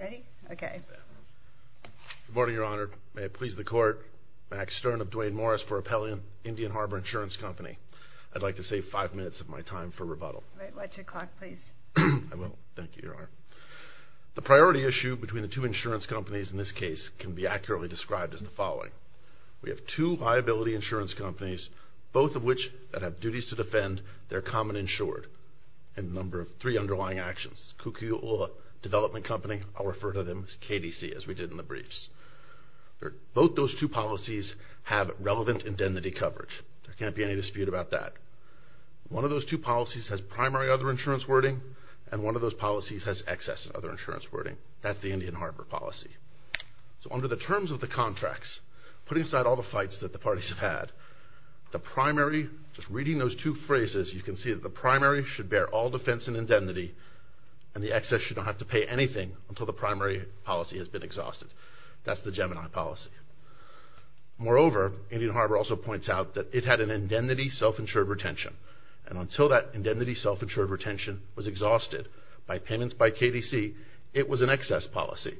Ready? Okay. Good morning, Your Honor. May it please the Court, Max Stern of Duane Morris for Appellant, Indian Harbor Insurance Company. I'd like to save five minutes of my time for rebuttal. Wait. Watch your clock, please. I will. Thank you, Your Honor. The priority issue between the two insurance companies in this case can be accurately described as the following. We have two liability insurance companies, both of which have duties to defend their common insured, and the number of three underlying actions. Kukuula Development Company, I'll refer to them as KDC, as we did in the briefs. Both those two policies have relevant indemnity coverage. There can't be any dispute about that. One of those two policies has primary other insurance wording, and one of those policies has excess other insurance wording. That's the Indian Harbor policy. So under the terms of the contracts, put inside all the fights that the parties have had, the primary, just reading those two phrases, you can see that the primary should bear all defense and indemnity, and the excess should not have to pay anything until the primary policy has been exhausted. That's the Gemini policy. Moreover, Indian Harbor also points out that it had an indemnity self-insured retention, and until that indemnity self-insured retention was exhausted by payments by KDC, it was an excess policy.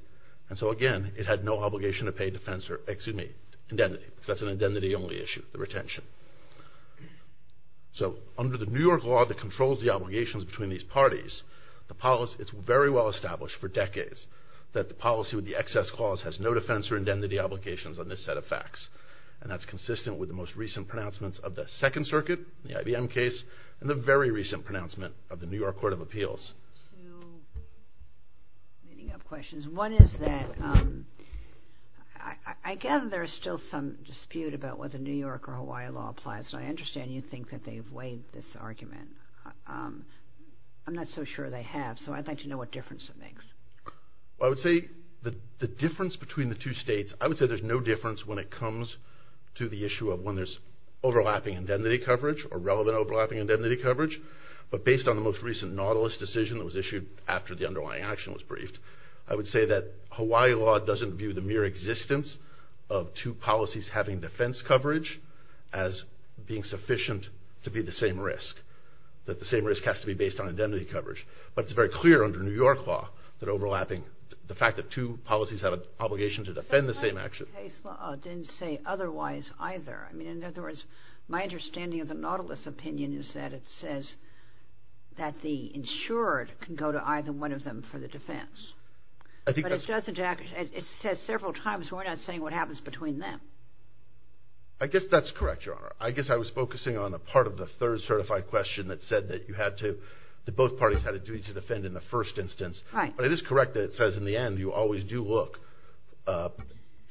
And so again, it had no obligation to pay defense or, excuse me, indemnity, because that's an indemnity-only issue, the retention. So under the New York law that controls the obligations between these parties, it's very well established for decades that the policy with the excess clause has no defense or indemnity obligations on this set of facts, and that's consistent with the most recent pronouncements of the Second Circuit, the IBM case, and the very recent pronouncement of the New York Court of Appeals. Just two leading-up questions. One is that I gather there is still some dispute about whether New York or Hawaii law applies, and I understand you think that they've weighed this argument. I'm not so sure they have, so I'd like to know what difference it makes. Well, I would say the difference between the two states, I would say there's no difference when it comes to the issue of when there's overlapping indemnity coverage or relevant overlapping indemnity coverage, but based on the most recent Nautilus decision that was issued after the underlying action was briefed, I would say that Hawaii law doesn't view the mere existence of two policies having defense coverage as being sufficient to be the same risk, that the same risk has to be based on indemnity coverage. But it's very clear under New York law that overlapping, the fact that two policies have an obligation to defend the same action. But Hawaii case law didn't say otherwise either. I mean, in other words, my understanding of the Nautilus opinion is that it says that the insured can go to either one of them for the defense. But it says several times we're not saying what happens between them. I guess that's correct, Your Honor. I guess I was focusing on a part of the third certified question that said that you had to, that both parties had a duty to defend in the first instance. But it is correct that it says in the end you always do look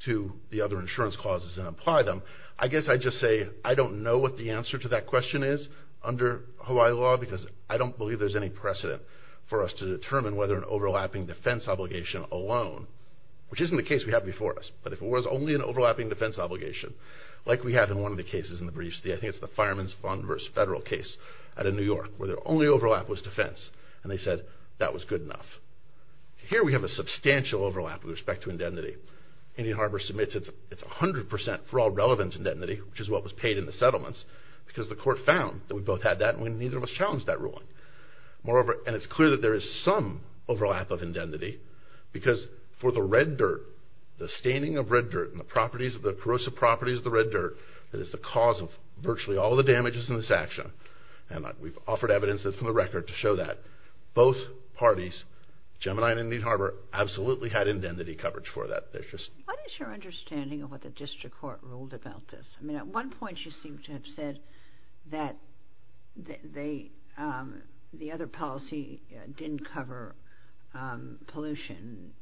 to the other insurance clauses and apply them. I guess I'd just say I don't know what the answer to that question is under Hawaii law because I don't believe there's any precedent for us to determine whether an overlapping defense obligation alone, which isn't the case we have before us, but if it was only an overlapping defense obligation, like we have in one of the cases in the briefs, I think it's the Fireman's Fund v. Federal case out of New York, where their only overlap was defense, and they said that was good enough. Here we have a substantial overlap with respect to indemnity. Indian Harbor submits its 100% for all relevant indemnity, which is what was paid in the settlements, because the court found that we both had that and neither of us challenged that ruling. Moreover, and it's clear that there is some overlap of indemnity because for the red dirt, the staining of red dirt and the corrosive properties of the red dirt that is the cause of virtually all the damages in this action, and we've offered evidence from the record to show that, both parties, Gemini and Indian Harbor, absolutely had indemnity coverage for that. What is your understanding of what the district court ruled about this? At one point she seemed to have said that the other policy didn't cover pollution,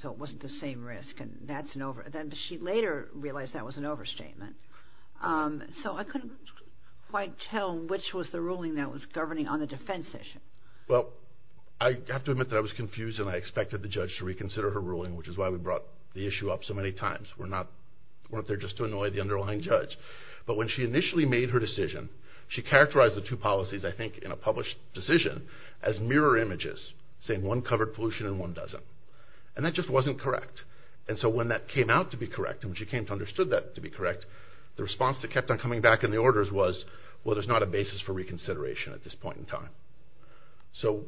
so it wasn't the same risk, and she later realized that was an overstatement. So I couldn't quite tell which was the ruling that was governing on the defense issue. Well, I have to admit that I was confused and I expected the judge to reconsider her ruling, which is why we brought the issue up so many times. We weren't there just to annoy the underlying judge. But when she initially made her decision, she characterized the two policies, I think, in a published decision as mirror images, saying one covered pollution and one doesn't. And that just wasn't correct. And so when that came out to be correct and when she came to understand that to be correct, the response that kept on coming back in the orders was, well, there's not a basis for reconsideration at this point in time. So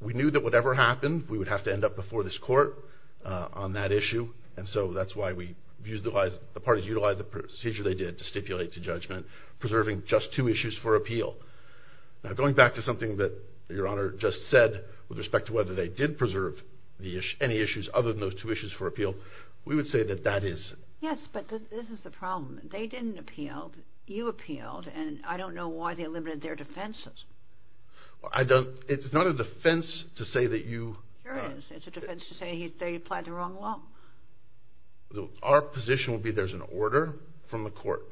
we knew that whatever happened, we would have to end up before this court on that issue, and so that's why the parties utilized the procedure they did to stipulate to judgment, preserving just two issues for appeal. Now, going back to something that Your Honor just said with respect to whether they did preserve any issues other than those two issues for appeal, we would say that that is... Yes, but this is the problem. They didn't appeal. You appealed. And I don't know why they limited their defenses. I don't... It's not a defense to say that you... Sure is. It's a defense to say they applied the wrong law. Our position would be there's an order from the court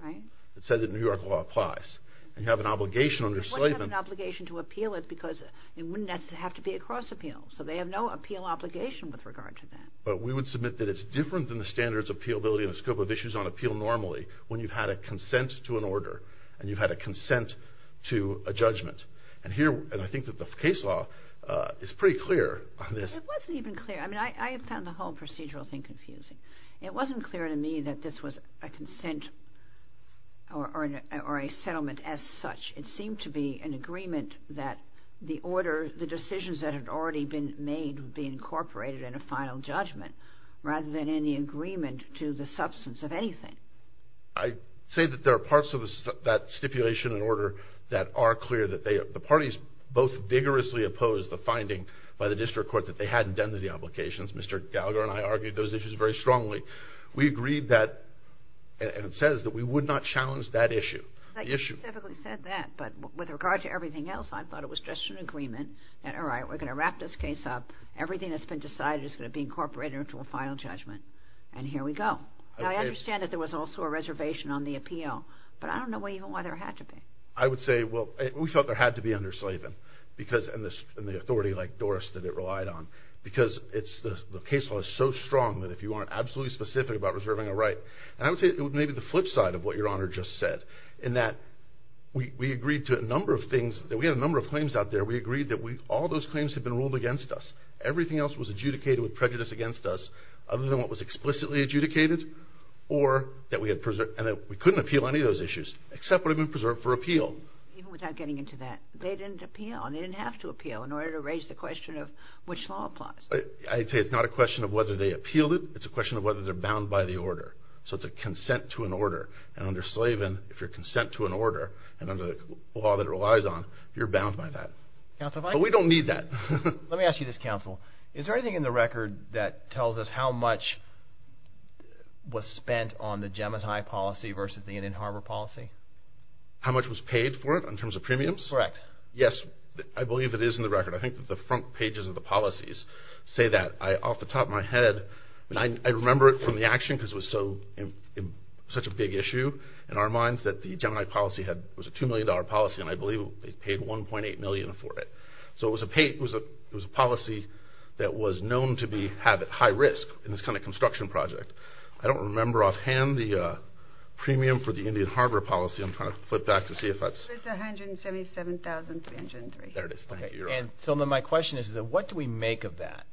that says that New York law applies. And you have an obligation under slavery... They wouldn't have an obligation to appeal it because it wouldn't have to be a cross-appeal. So they have no appeal obligation with regard to that. But we would submit that it's different than the standards of appealability and the scope of issues on appeal normally when you've had a consent to an order and you've had a consent to a judgment. And I think that the case law is pretty clear on this. It wasn't even clear. I mean, I found the whole procedural thing confusing. It wasn't clear to me that this was a consent or a settlement as such. It seemed to be an agreement that the order, the decisions that had already been made would be incorporated in a final judgment rather than in the agreement to the substance of anything. I say that there are parts of that stipulation and order that are clear, that the parties both vigorously opposed the finding by the district court that they hadn't done the obligations. Mr. Gallagher and I argued those issues very strongly. We agreed that, and it says, that we would not challenge that issue. I specifically said that, but with regard to everything else, I thought it was just an agreement that, all right, we're going to wrap this case up. Everything that's been decided is going to be incorporated into a final judgment. And here we go. Now, I understand that there was also a reservation on the appeal, but I don't know even why there had to be. I would say, well, we felt there had to be under-slaving and the authority like Doris that it relied on because the case law is so strong that if you aren't absolutely specific about reserving a right, and I would say maybe the flip side of what Your Honor just said in that we agreed to a number of things. We had a number of claims out there. We agreed that all those claims had been ruled against us. Everything else was adjudicated with prejudice against us other than what was explicitly adjudicated, or that we couldn't appeal any of those issues except what had been preserved for appeal. Even without getting into that, they didn't appeal, and they didn't have to appeal in order to raise the question of which law applies. I'd say it's not a question of whether they appealed it. It's a question of whether they're bound by the order. So it's a consent to an order. And under-slaving, if you're consent to an order, and under the law that it relies on, you're bound by that. But we don't need that. Let me ask you this, Counsel. Is there anything in the record that tells us how much was spent on the Gemini policy versus the Indian Harbor policy? How much was paid for it in terms of premiums? Correct. Yes, I believe it is in the record. I think that the front pages of the policies say that. Off the top of my head, I remember it from the action because it was such a big issue in our minds that the Gemini policy was a $2 million policy, and I believe they paid $1.8 million for it. So it was a policy that was known to have high risk in this kind of construction project. I don't remember offhand the premium for the Indian Harbor policy. I'm trying to flip back to see if that's... It's $177,303. There it is. Thank you, Your Honor. And so my question is, what do we make of that?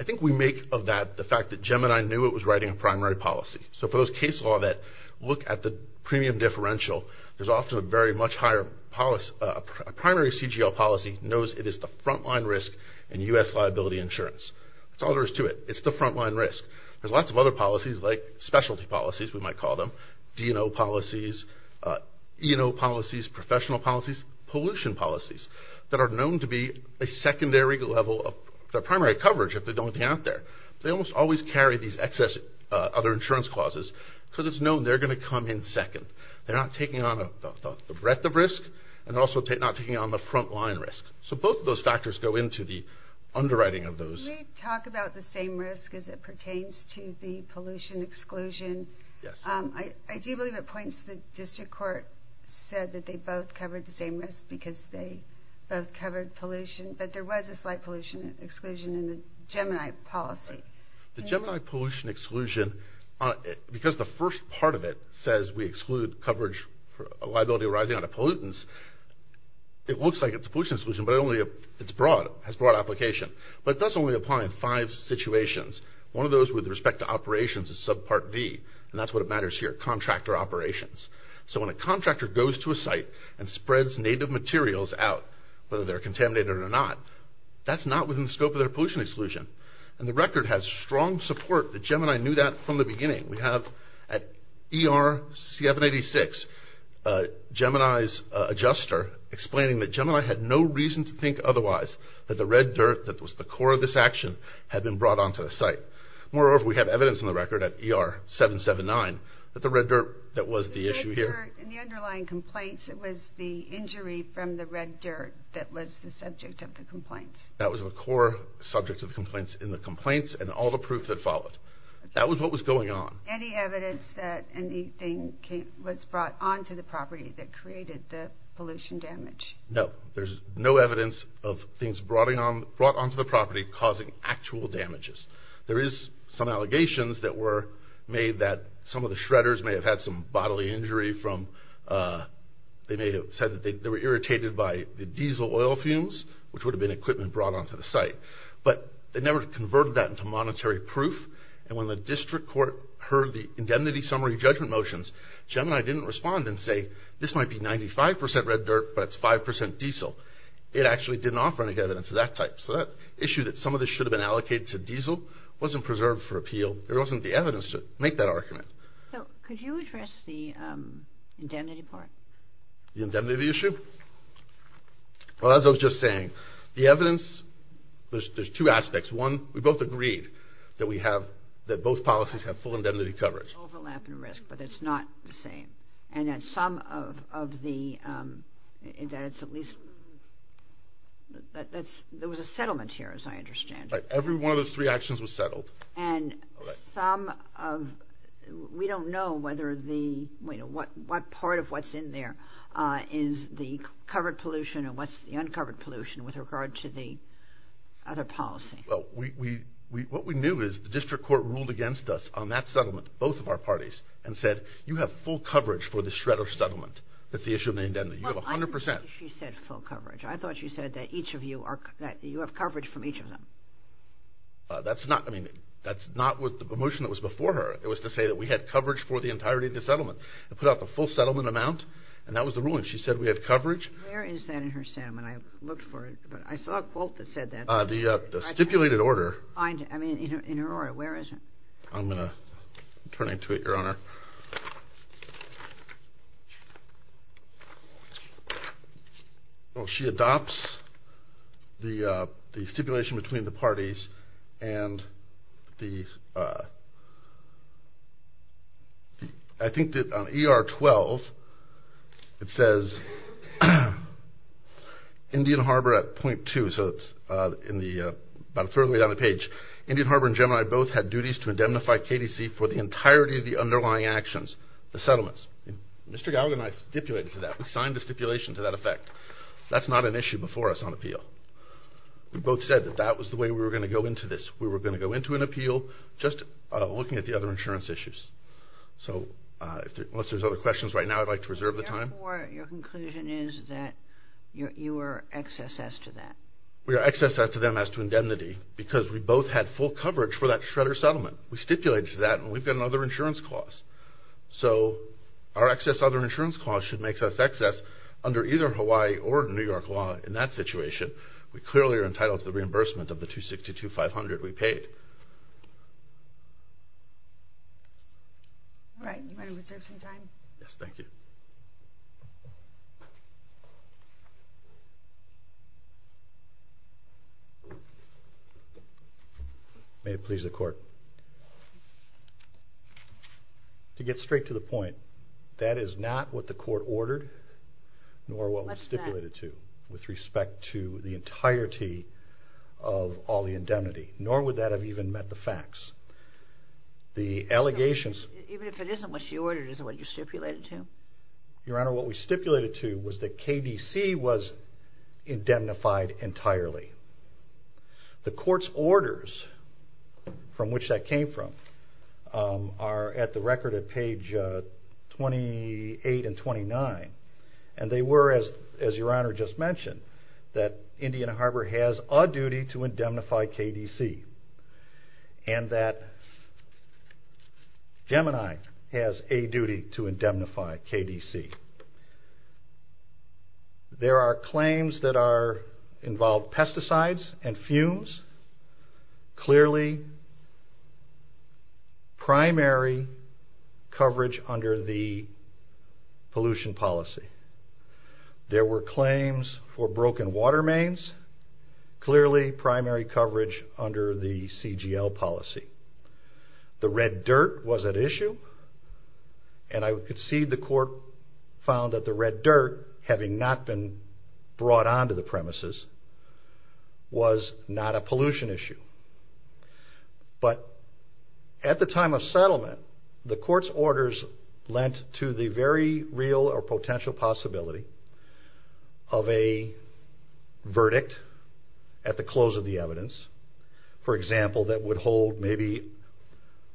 I think we make of that the fact that Gemini knew it was writing a primary policy. So for those case law that look at the premium differential, there's often a very much higher policy. A primary CGL policy knows it is the front-line risk in U.S. liability insurance. That's all there is to it. It's the front-line risk. There's lots of other policies like specialty policies, we might call them, D&O policies, E&O policies, professional policies, pollution policies, that are known to be a secondary level of primary coverage if they don't get out there. They almost always carry these excess other insurance clauses because it's known they're going to come in second. They're not taking on the breadth of risk, and they're also not taking on the front-line risk. So both of those factors go into the underwriting of those. Can we talk about the same risk as it pertains to the pollution exclusion? Yes. I do believe it points to the district court said that they both covered the same risk because they both covered pollution, but there was a slight pollution exclusion in the Gemini policy. The Gemini pollution exclusion, because the first part of it says we exclude coverage for a liability arising out of pollutants, it looks like it's a pollution exclusion, but it only has broad application. But it does only apply in five situations. One of those with respect to operations is subpart V, and that's what matters here, contractor operations. So when a contractor goes to a site and spreads native materials out, whether they're contaminated or not, that's not within the scope of their pollution exclusion. And the record has strong support that Gemini knew that from the beginning. We have at ER 786, Gemini's adjuster explaining that Gemini had no reason to think otherwise, that the red dirt that was the core of this action had been brought onto the site. Moreover, we have evidence in the record at ER 779 that the red dirt that was the issue here... That was the subject of the complaints. That was the core subject of the complaints in the complaints and all the proof that followed. That was what was going on. Any evidence that anything was brought onto the property that created the pollution damage? No. There's no evidence of things brought onto the property causing actual damages. There is some allegations that were made that some of the shredders may have had some bodily injury from... Allocated by the diesel oil fumes, which would have been equipment brought onto the site. But they never converted that into monetary proof. And when the district court heard the indemnity summary judgment motions, Gemini didn't respond and say, this might be 95% red dirt, but it's 5% diesel. It actually didn't offer any evidence of that type. So that issue, that some of this should have been allocated to diesel, wasn't preserved for appeal. There wasn't the evidence to make that argument. Could you address the indemnity part? The indemnity issue? Well, as I was just saying, the evidence, there's two aspects. One, we both agreed that we have, that both policies have full indemnity coverage. Overlap in risk, but it's not the same. And that some of the, that it's at least... There was a settlement here, as I understand it. Every one of those three actions was settled. And some of, we don't know whether the, what part of what's in there is the covered pollution and what's the uncovered pollution with regard to the other policy. Well, what we knew is the district court ruled against us on that settlement, both of our parties, and said, you have full coverage for this shred of settlement that the issue of the indemnity. You have 100%. I didn't think you said full coverage. I thought you said that each of you are, that you have coverage from each of them. That's not, I mean, that's not what the motion that was before her. It was to say that we had coverage for the entirety of the settlement. It put out the full settlement amount, and that was the ruling. She said we had coverage. Where is that in her settlement? I looked for it, but I saw a quote that said that. The stipulated order. I mean, in Aurora, where is it? I'm going to turn into it, Your Honor. Well, she adopts the stipulation between the parties, and I think that on ER 12, it says, Indian Harbor at .2, so it's about a third of the way down the page. Indian Harbor and Gemini both had duties to indemnify KDC for the entirety of the underlying actions, the settlements. Mr. Gallagher and I stipulated to that. We signed the stipulation to that effect. That's not an issue before us on appeal. We both said that that was the way we were going to go into this. We were going to go into an appeal just looking at the other insurance issues. So unless there's other questions right now, I'd like to reserve the time. Therefore, your conclusion is that you were excess as to that. We were excess as to them as to indemnity because we both had full coverage for that Shredder settlement. We stipulated to that, and we've got another insurance clause. So our excess other insurance clause should make us excess under either Hawaii or New York law in that situation. We clearly are entitled to the reimbursement of the $262,500 we paid. All right, you may reserve some time. Yes, thank you. May it please the Court. To get straight to the point, that is not what the Court ordered nor what was stipulated to with respect to the entirety of all the indemnity, nor would that have even met the facts. Even if it isn't what she ordered, is it what you stipulated to? Your Honor, what we stipulated to was that KDC was indemnified entirely. The Court's orders from which that came from are at the record at page 28 and 29. And they were, as Your Honor just mentioned, that Indiana Harbor has a duty to indemnify KDC and that Gemini has a duty to indemnify KDC. There are claims that involve pesticides and fumes, clearly primary coverage under the pollution policy. There were claims for broken water mains, clearly primary coverage under the CGL policy. The red dirt was an issue, and I could see the Court found that the red dirt, having not been brought onto the premises, was not a pollution issue. But at the time of settlement, the Court's orders lent to the very real or potential possibility of a verdict at the close of the evidence, for example, that would hold maybe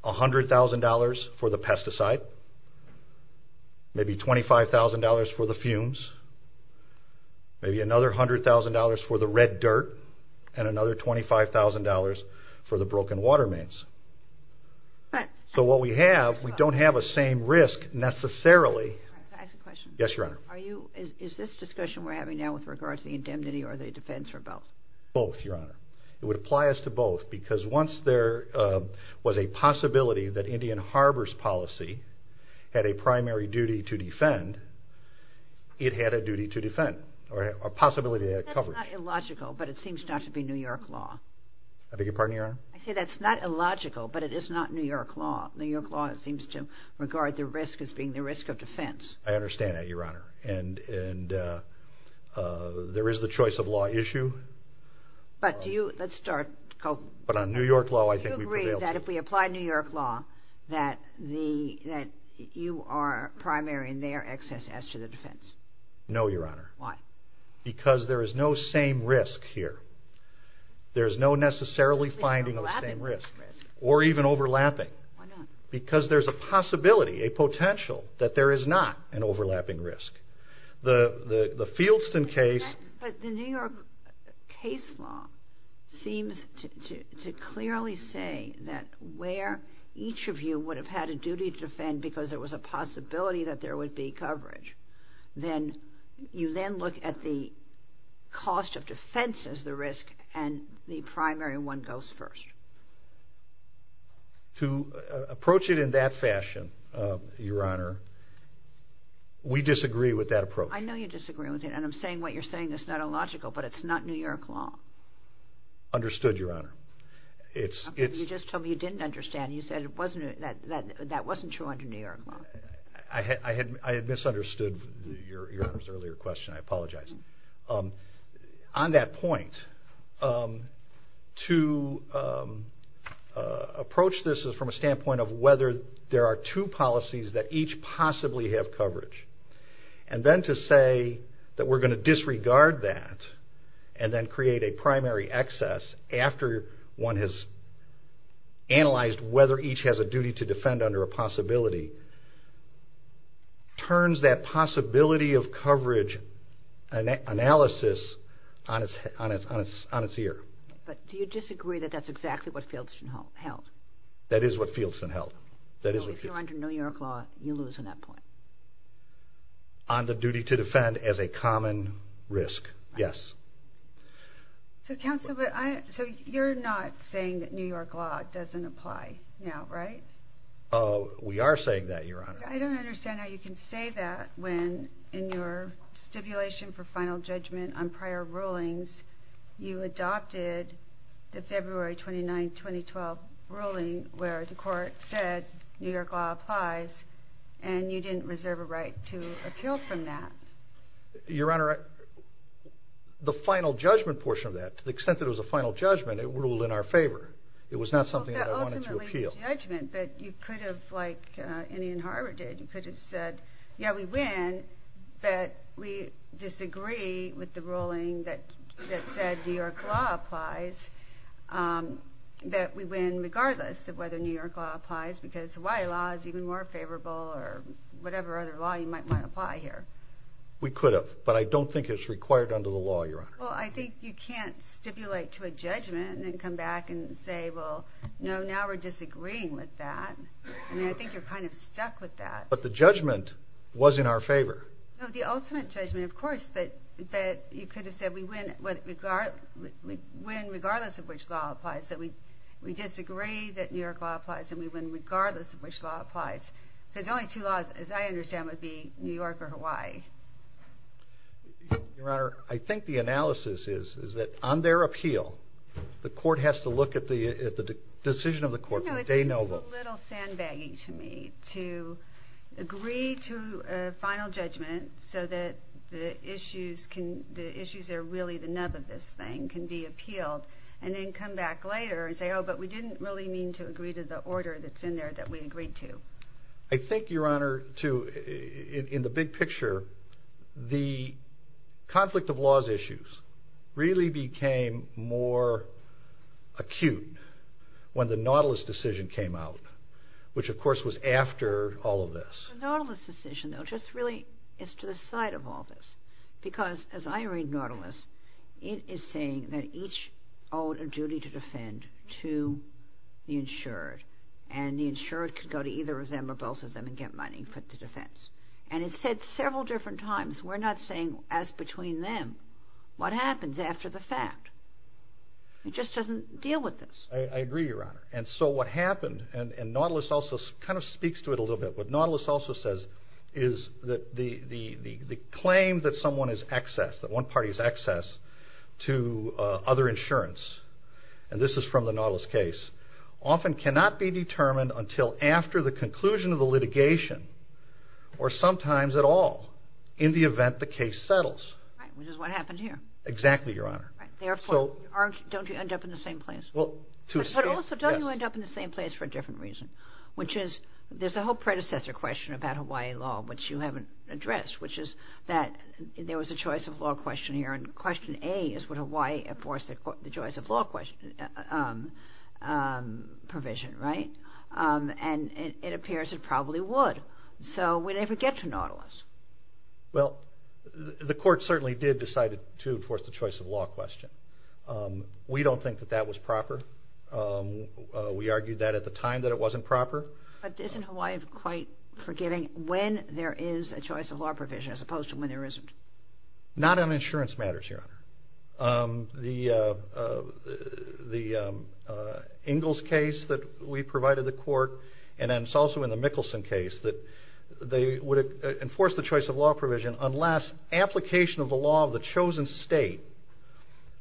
$100,000 for the pesticide, maybe $25,000 for the fumes, maybe another $100,000 for the red dirt, and another $25,000 for the broken water mains. So what we have, we don't have a same risk necessarily. Can I ask a question? Yes, Your Honor. Is this discussion we're having now with regard to the indemnity or the defense or both? Both, Your Honor. It would apply as to both because once there was a possibility that Indian Harbor's policy had a primary duty to defend, it had a duty to defend, or a possibility to have coverage. That's not illogical, but it seems not to be New York law. I beg your pardon, Your Honor? I say that's not illogical, but it is not New York law. New York law seems to regard the risk as being the risk of defense. I understand that, Your Honor. And there is the choice of law issue. But do you, let's start. But on New York law, I think we prevail. Do you agree that if we apply New York law, that you are primary in their excess as to the defense? No, Your Honor. Why? Because there is no same risk here. There's no necessarily finding of the same risk, or even overlapping. Why not? Because there's a possibility, a potential, that there is not an overlapping risk. The Fieldston case... But the New York case law seems to clearly say that where each of you would have had a duty to defend because there was a possibility that there would be coverage, then you then look at the cost of defense as the risk, and the primary one goes first. To approach it in that fashion, Your Honor, we disagree with that approach. I know you disagree with it, and I'm saying what you're saying is not illogical, but it's not New York law. Understood, Your Honor. You just told me you didn't understand. You said that wasn't true under New York law. I had misunderstood Your Honor's earlier question. I apologize. On that point, to approach this from a standpoint of whether there are two policies that each possibly have coverage, and then to say that we're going to disregard that, and then create a primary excess after one has analyzed whether each has a duty to defend under a possibility, turns that possibility of coverage analysis on its ear. But do you disagree that that's exactly what Fieldston held? That is what Fieldston held. So if you're under New York law, you lose on that point? On the duty to defend as a common risk, yes. So, counsel, you're not saying that New York law doesn't apply now, right? We are saying that, Your Honor. I don't understand how you can say that when, in your stipulation for final judgment on prior rulings, you adopted the February 29, 2012, ruling where the court said New York law applies, and you didn't reserve a right to appeal from that. Your Honor, the final judgment portion of that, to the extent that it was a final judgment, it ruled in our favor. It was not something that I wanted to appeal. It was not a judgment, but you could have, like Indian Harbor did, you could have said, yeah, we win, but we disagree with the ruling that said New York law applies, that we win regardless of whether New York law applies, because Hawaii law is even more favorable or whatever other law you might want to apply here. We could have, but I don't think it's required under the law, Your Honor. Well, I think you can't stipulate to a judgment and come back and say, well, no, now we're disagreeing with that. I mean, I think you're kind of stuck with that. But the judgment was in our favor. No, the ultimate judgment, of course, but you could have said we win regardless of which law applies, that we disagree that New York law applies and we win regardless of which law applies, because the only two laws, as I understand, would be New York or Hawaii. Your Honor, I think the analysis is that on their appeal, the court has to look at the decision of the court. It's a little sandbagging to me to agree to a final judgment so that the issues that are really the nub of this thing can be appealed and then come back later and say, oh, but we didn't really mean to agree to the order that's in there that we agreed to. I think, Your Honor, in the big picture, the conflict of laws issues really became more acute when the Nautilus decision came out, which, of course, was after all of this. The Nautilus decision, though, just really is to the side of all this, because as I read Nautilus, it is saying that each owed a duty to defend to the insured, and the insured could go to either of them or both of them and get money for the defense. And it said several different times, we're not saying, as between them, what happens after the fact. It just doesn't deal with this. I agree, Your Honor. And so what happened, and Nautilus also kind of speaks to it a little bit, what Nautilus also says is that the claim that someone is excess, that one party is excess to other insurance, and this is from the Nautilus case, often cannot be determined until after the conclusion of the litigation or sometimes at all in the event the case settles. Right, which is what happened here. Exactly, Your Honor. Therefore, don't you end up in the same place? Well, to a extent, yes. But also, don't you end up in the same place for a different reason, which is there's a whole predecessor question about Hawaii law, which you haven't addressed, which is that there was a choice of law question here, and question A is would Hawaii enforce the choice of law provision, right? And it appears it probably would. So would it ever get to Nautilus? Well, the court certainly did decide to enforce the choice of law question. We don't think that that was proper. We argued that at the time that it wasn't proper. But isn't Hawaii quite forgiving when there is a choice of law provision as opposed to when there isn't? Not on insurance matters, Your Honor. The Ingalls case that we provided the court, and then it's also in the Mickelson case, that they would enforce the choice of law provision unless application of the law of the chosen state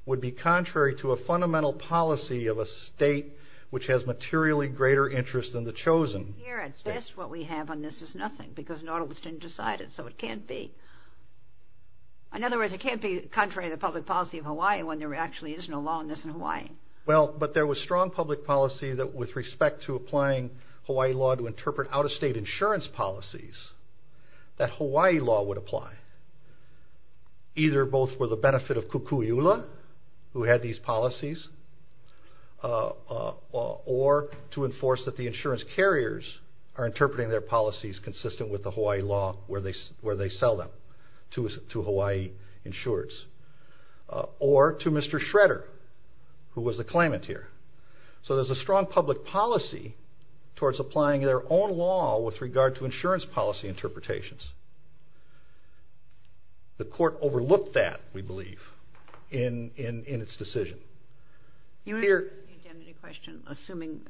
would be contrary to a fundamental policy of a state which has materially greater interest than the chosen state. Here, at best, what we have on this is nothing, because Nautilus didn't decide it, so it can't be. It's contrary to the public policy of Hawaii when there actually is no law on this in Hawaii. Well, but there was strong public policy with respect to applying Hawaii law to interpret out-of-state insurance policies that Hawaii law would apply, either both for the benefit of Kukuiula, who had these policies, or to enforce that the insurance carriers are interpreting their policies consistent with the Hawaii law where they sell them to Hawaii insurers, or to Mr. Schroeder, who was the claimant here. So there's a strong public policy towards applying their own law with regard to insurance policy interpretations. The court overlooked that, we believe, in its decision. You raised the indemnity question.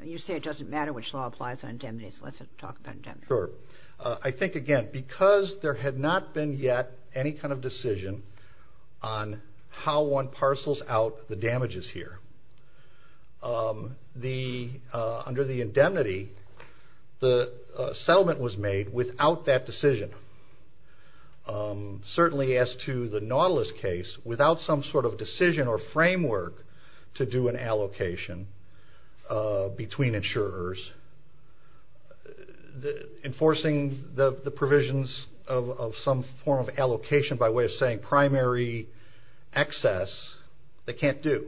You say it doesn't matter which law applies on indemnities. Let's talk about indemnities. Sure. I think, again, because there had not been yet any kind of decision on how one parcels out the damages here, under the indemnity, the settlement was made without that decision. Certainly as to the Nautilus case, without some sort of decision or framework to do an allocation between insurers, enforcing the provisions of some form of allocation by way of saying primary excess, they can't do.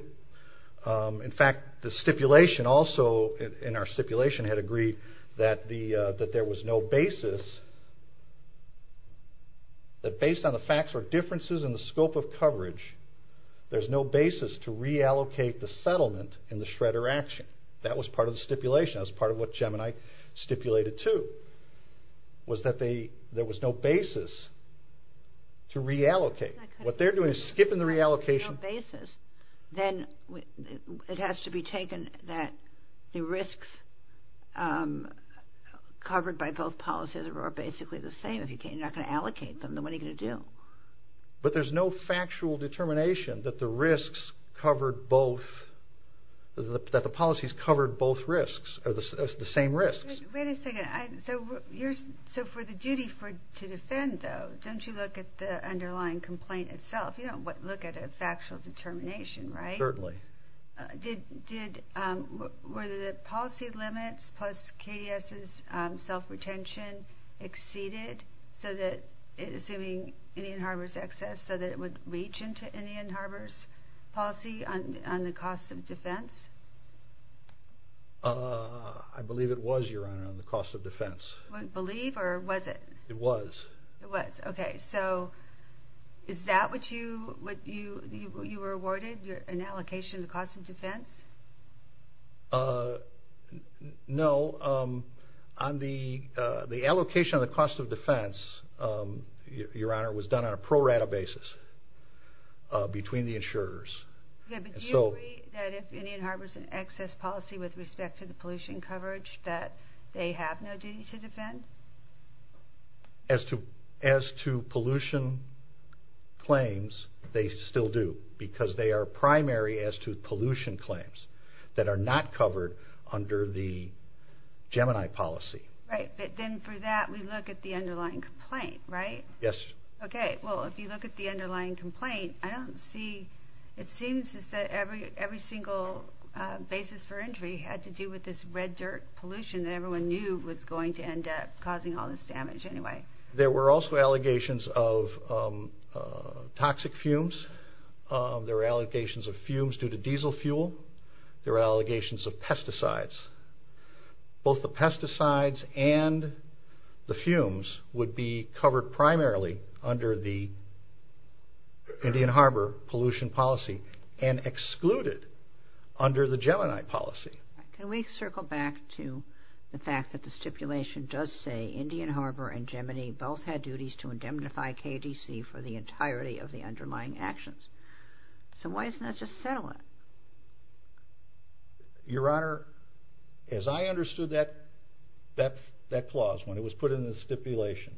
In fact, the stipulation also, in our stipulation, had agreed that there was no basis, that based on the facts or differences in the scope of coverage, there's no basis to reallocate the settlement in the Schroeder action. That was part of the stipulation. That was part of what Gemini stipulated, too, was that there was no basis to reallocate. What they're doing is skipping the reallocation. If there's no basis, then it has to be taken that the risks covered by both policies are basically the same. If you're not going to allocate them, then what are you going to do? But there's no factual determination that the risks covered both, that the policies covered both risks, or the same risks. Wait a second. So for the duty to defend, though, don't you look at the underlying complaint itself? You don't look at a factual determination, right? Certainly. Were the policy limits plus KDS's self-retention exceeded, assuming Indian Harbor's excess, so that it would reach into Indian Harbor's policy on the cost of defense? I believe it was, Your Honor, on the cost of defense. Believe, or was it? It was. It was. Okay. So is that what you were awarded, an allocation of the cost of defense? No. The allocation of the cost of defense, Your Honor, was done on a pro rata basis between the insurers. Yeah, but do you agree that if Indian Harbor's an excess policy with respect to the pollution coverage that they have no duty to defend? As to pollution claims, they still do, because they are primary as to pollution claims that are not covered under the Gemini policy. Right. But then for that, we look at the underlying complaint, right? Yes. Okay. Well, if you look at the underlying complaint, it seems that every single basis for injury had to do with this red dirt pollution that everyone knew was going to end up causing all this damage anyway. There were also allegations of toxic fumes. There were allegations of fumes due to diesel fuel. There were allegations of pesticides. Both the pesticides and the fumes would be covered primarily under the Indian Harbor pollution policy and excluded under the Gemini policy. Can we circle back to the fact that the stipulation does say Indian Harbor and Gemini both had duties to indemnify KDC for the entirety of the underlying actions? So why doesn't that just settle it? Your Honor, as I understood that clause, when it was put in the stipulation,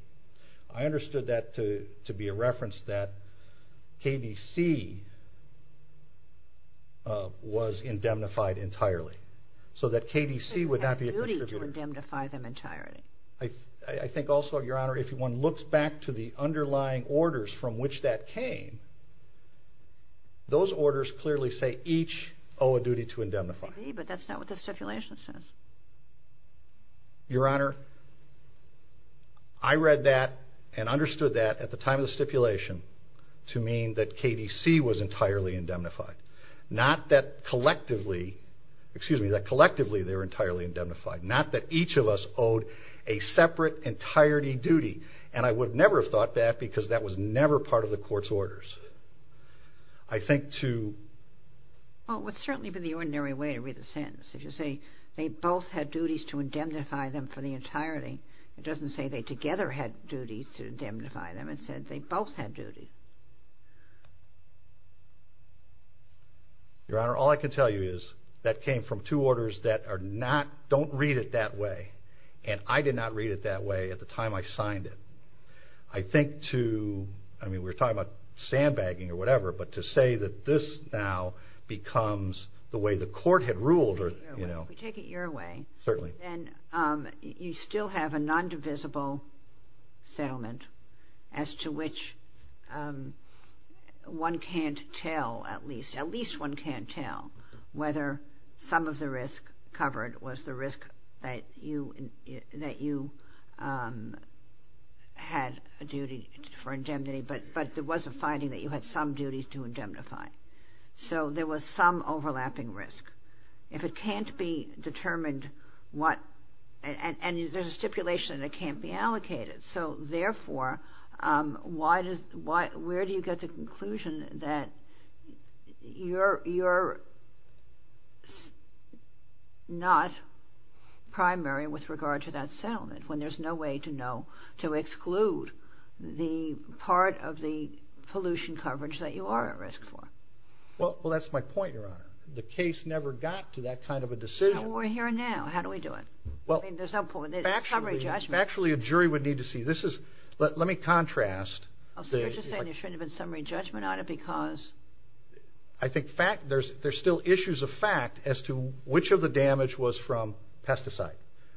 I understood that to be a reference that KDC was indemnified entirely, so that KDC would not be a contributor. They had a duty to indemnify them entirely. I think also, Your Honor, if one looks back to the underlying orders from which that came, those orders clearly say each owe a duty to indemnify. Maybe, but that's not what the stipulation says. Your Honor, I read that and understood that at the time of the stipulation to mean that KDC was entirely indemnified. Not that collectively, excuse me, that collectively they were entirely indemnified. Not that each of us owed a separate entirety duty, and I would never have thought that because that was never part of the court's orders. Well, it would certainly be the ordinary way to read the sentence. If you say they both had duties to indemnify them for the entirety, it doesn't say they together had duties to indemnify them. It said they both had duties. Your Honor, all I can tell you is that came from two orders that are not, don't read it that way, and I did not read it that way at the time I signed it. I think to, I mean, we're talking about sandbagging or whatever, but to say that this now becomes the way the court had ruled or, you know. Take it your way. Certainly. And you still have a non-divisible settlement as to which one can't tell at least, at least one can't tell whether some of the risk covered was the risk that you had a duty for indemnity, but there was a finding that you had some duties to indemnify. So there was some overlapping risk. If it can't be determined what, and there's a stipulation that it can't be allocated, so therefore where do you get the conclusion that you're not primary with regard to that settlement when there's no way to know, to exclude the part of the pollution coverage that you are at risk for? Well, that's my point, Your Honor. The case never got to that kind of a decision. Well, we're here now. How do we do it? I mean, there's no point. There's a summary judgment. Factually, a jury would need to see. Let me contrast. So you're just saying there shouldn't have been summary judgment on it because? I think there's still issues of fact as to which of the damage was from pesticide,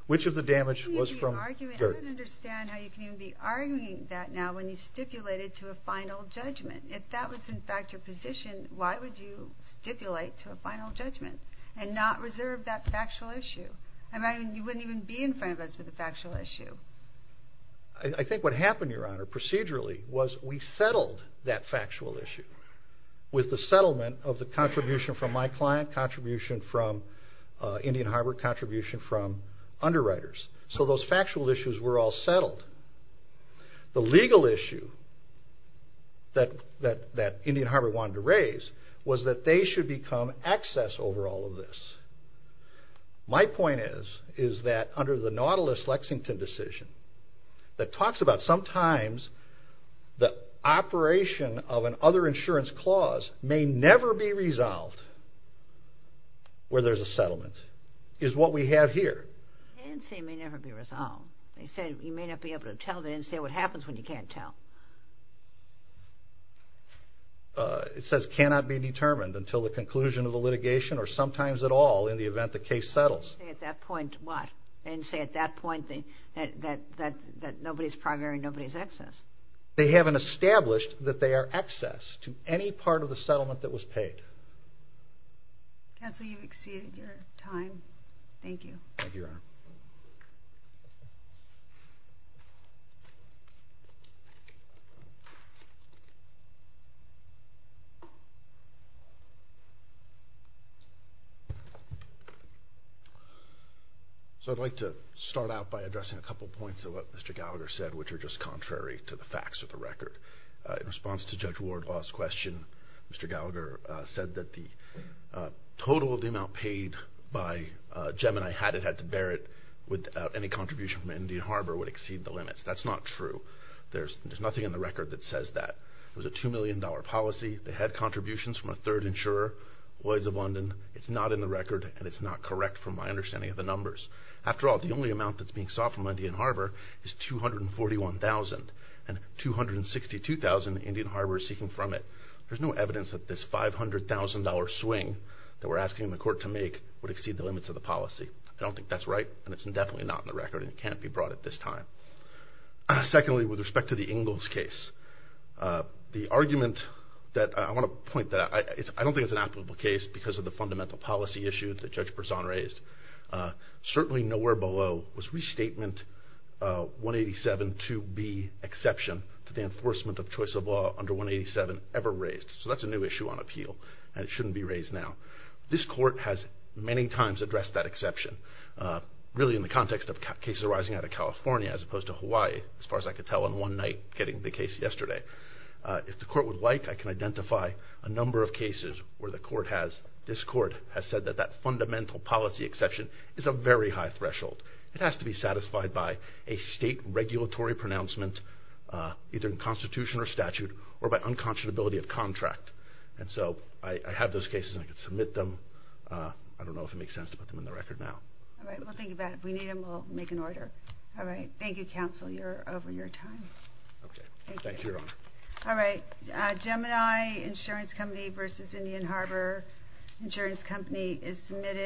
which of the damage was from dirt. I don't understand how you can even be arguing that now when you stipulate it to a final judgment. If that was, in fact, your position, why would you stipulate to a final judgment and not reserve that factual issue? I mean, you wouldn't even be in front of us with a factual issue. I think what happened, Your Honor, procedurally, was we settled that factual issue with the settlement of the contribution from my client, contribution from Indian Harbor, contribution from underwriters. So those factual issues were all settled. The legal issue that Indian Harbor wanted to raise was that they should become excess over all of this. My point is, is that under the Nautilus-Lexington decision that talks about sometimes the operation of an other insurance clause may never be resolved where there's a settlement, is what we have here. Can't say may never be resolved. They said you may not be able to tell. They didn't say what happens when you can't tell. It says cannot be determined until the conclusion of the litigation or sometimes at all in the event the case settles. They didn't say at that point what? They didn't say at that point that nobody's primary and nobody's excess. They haven't established that they are excess to any part of the settlement that was paid. Counsel, you've exceeded your time. Thank you. Thank you, Your Honor. So I'd like to start out by addressing a couple points of what Mr. Gallagher said, which are just contrary to the facts of the record. In response to Judge Wardlaw's question, Mr. Gallagher said that the total of the amount paid by Gemini had it had to bear it without any contribution from Indian Harbor would exceed the limits. That's not true. There's nothing in the record that says that. It was a $2 million policy. They had contributions from a third insurer, Lloyds of London. It's not in the record, and it's not correct from my understanding of the numbers. After all, the only amount that's being sought from Indian Harbor is $241,000, and $262,000 Indian Harbor is seeking from it. There's no evidence that this $500,000 swing that we're asking the court to make would exceed the limits of the policy. I don't think that's right, and it's definitely not in the record, and it can't be brought at this time. Secondly, with respect to the Ingalls case, the argument that I want to point to, I don't think it's an applicable case because of the fundamental policy issue that Judge Berzon raised. Certainly nowhere below was restatement 187 2B exception to the enforcement of choice of law under 187 ever raised. So that's a new issue on appeal, and it shouldn't be raised now. This court has many times addressed that exception, really in the context of cases arising out of California as opposed to Hawaii, as far as I could tell on one night getting the case yesterday. If the court would like, I can identify a number of cases where this court has said that that fundamental policy exception is a very high threshold. It has to be satisfied by a state regulatory pronouncement, either in constitution or statute, or by unconscionability of contract. And so I have those cases, and I can submit them. I don't know if it makes sense to put them in the record now. All right. We'll think about it. If we need them, we'll make an order. All right. Thank you, counsel, for your time. Okay. Thank you, Your Honor. All right. Gemini Insurance Company v. Indian Harbor Insurance Company is submitted.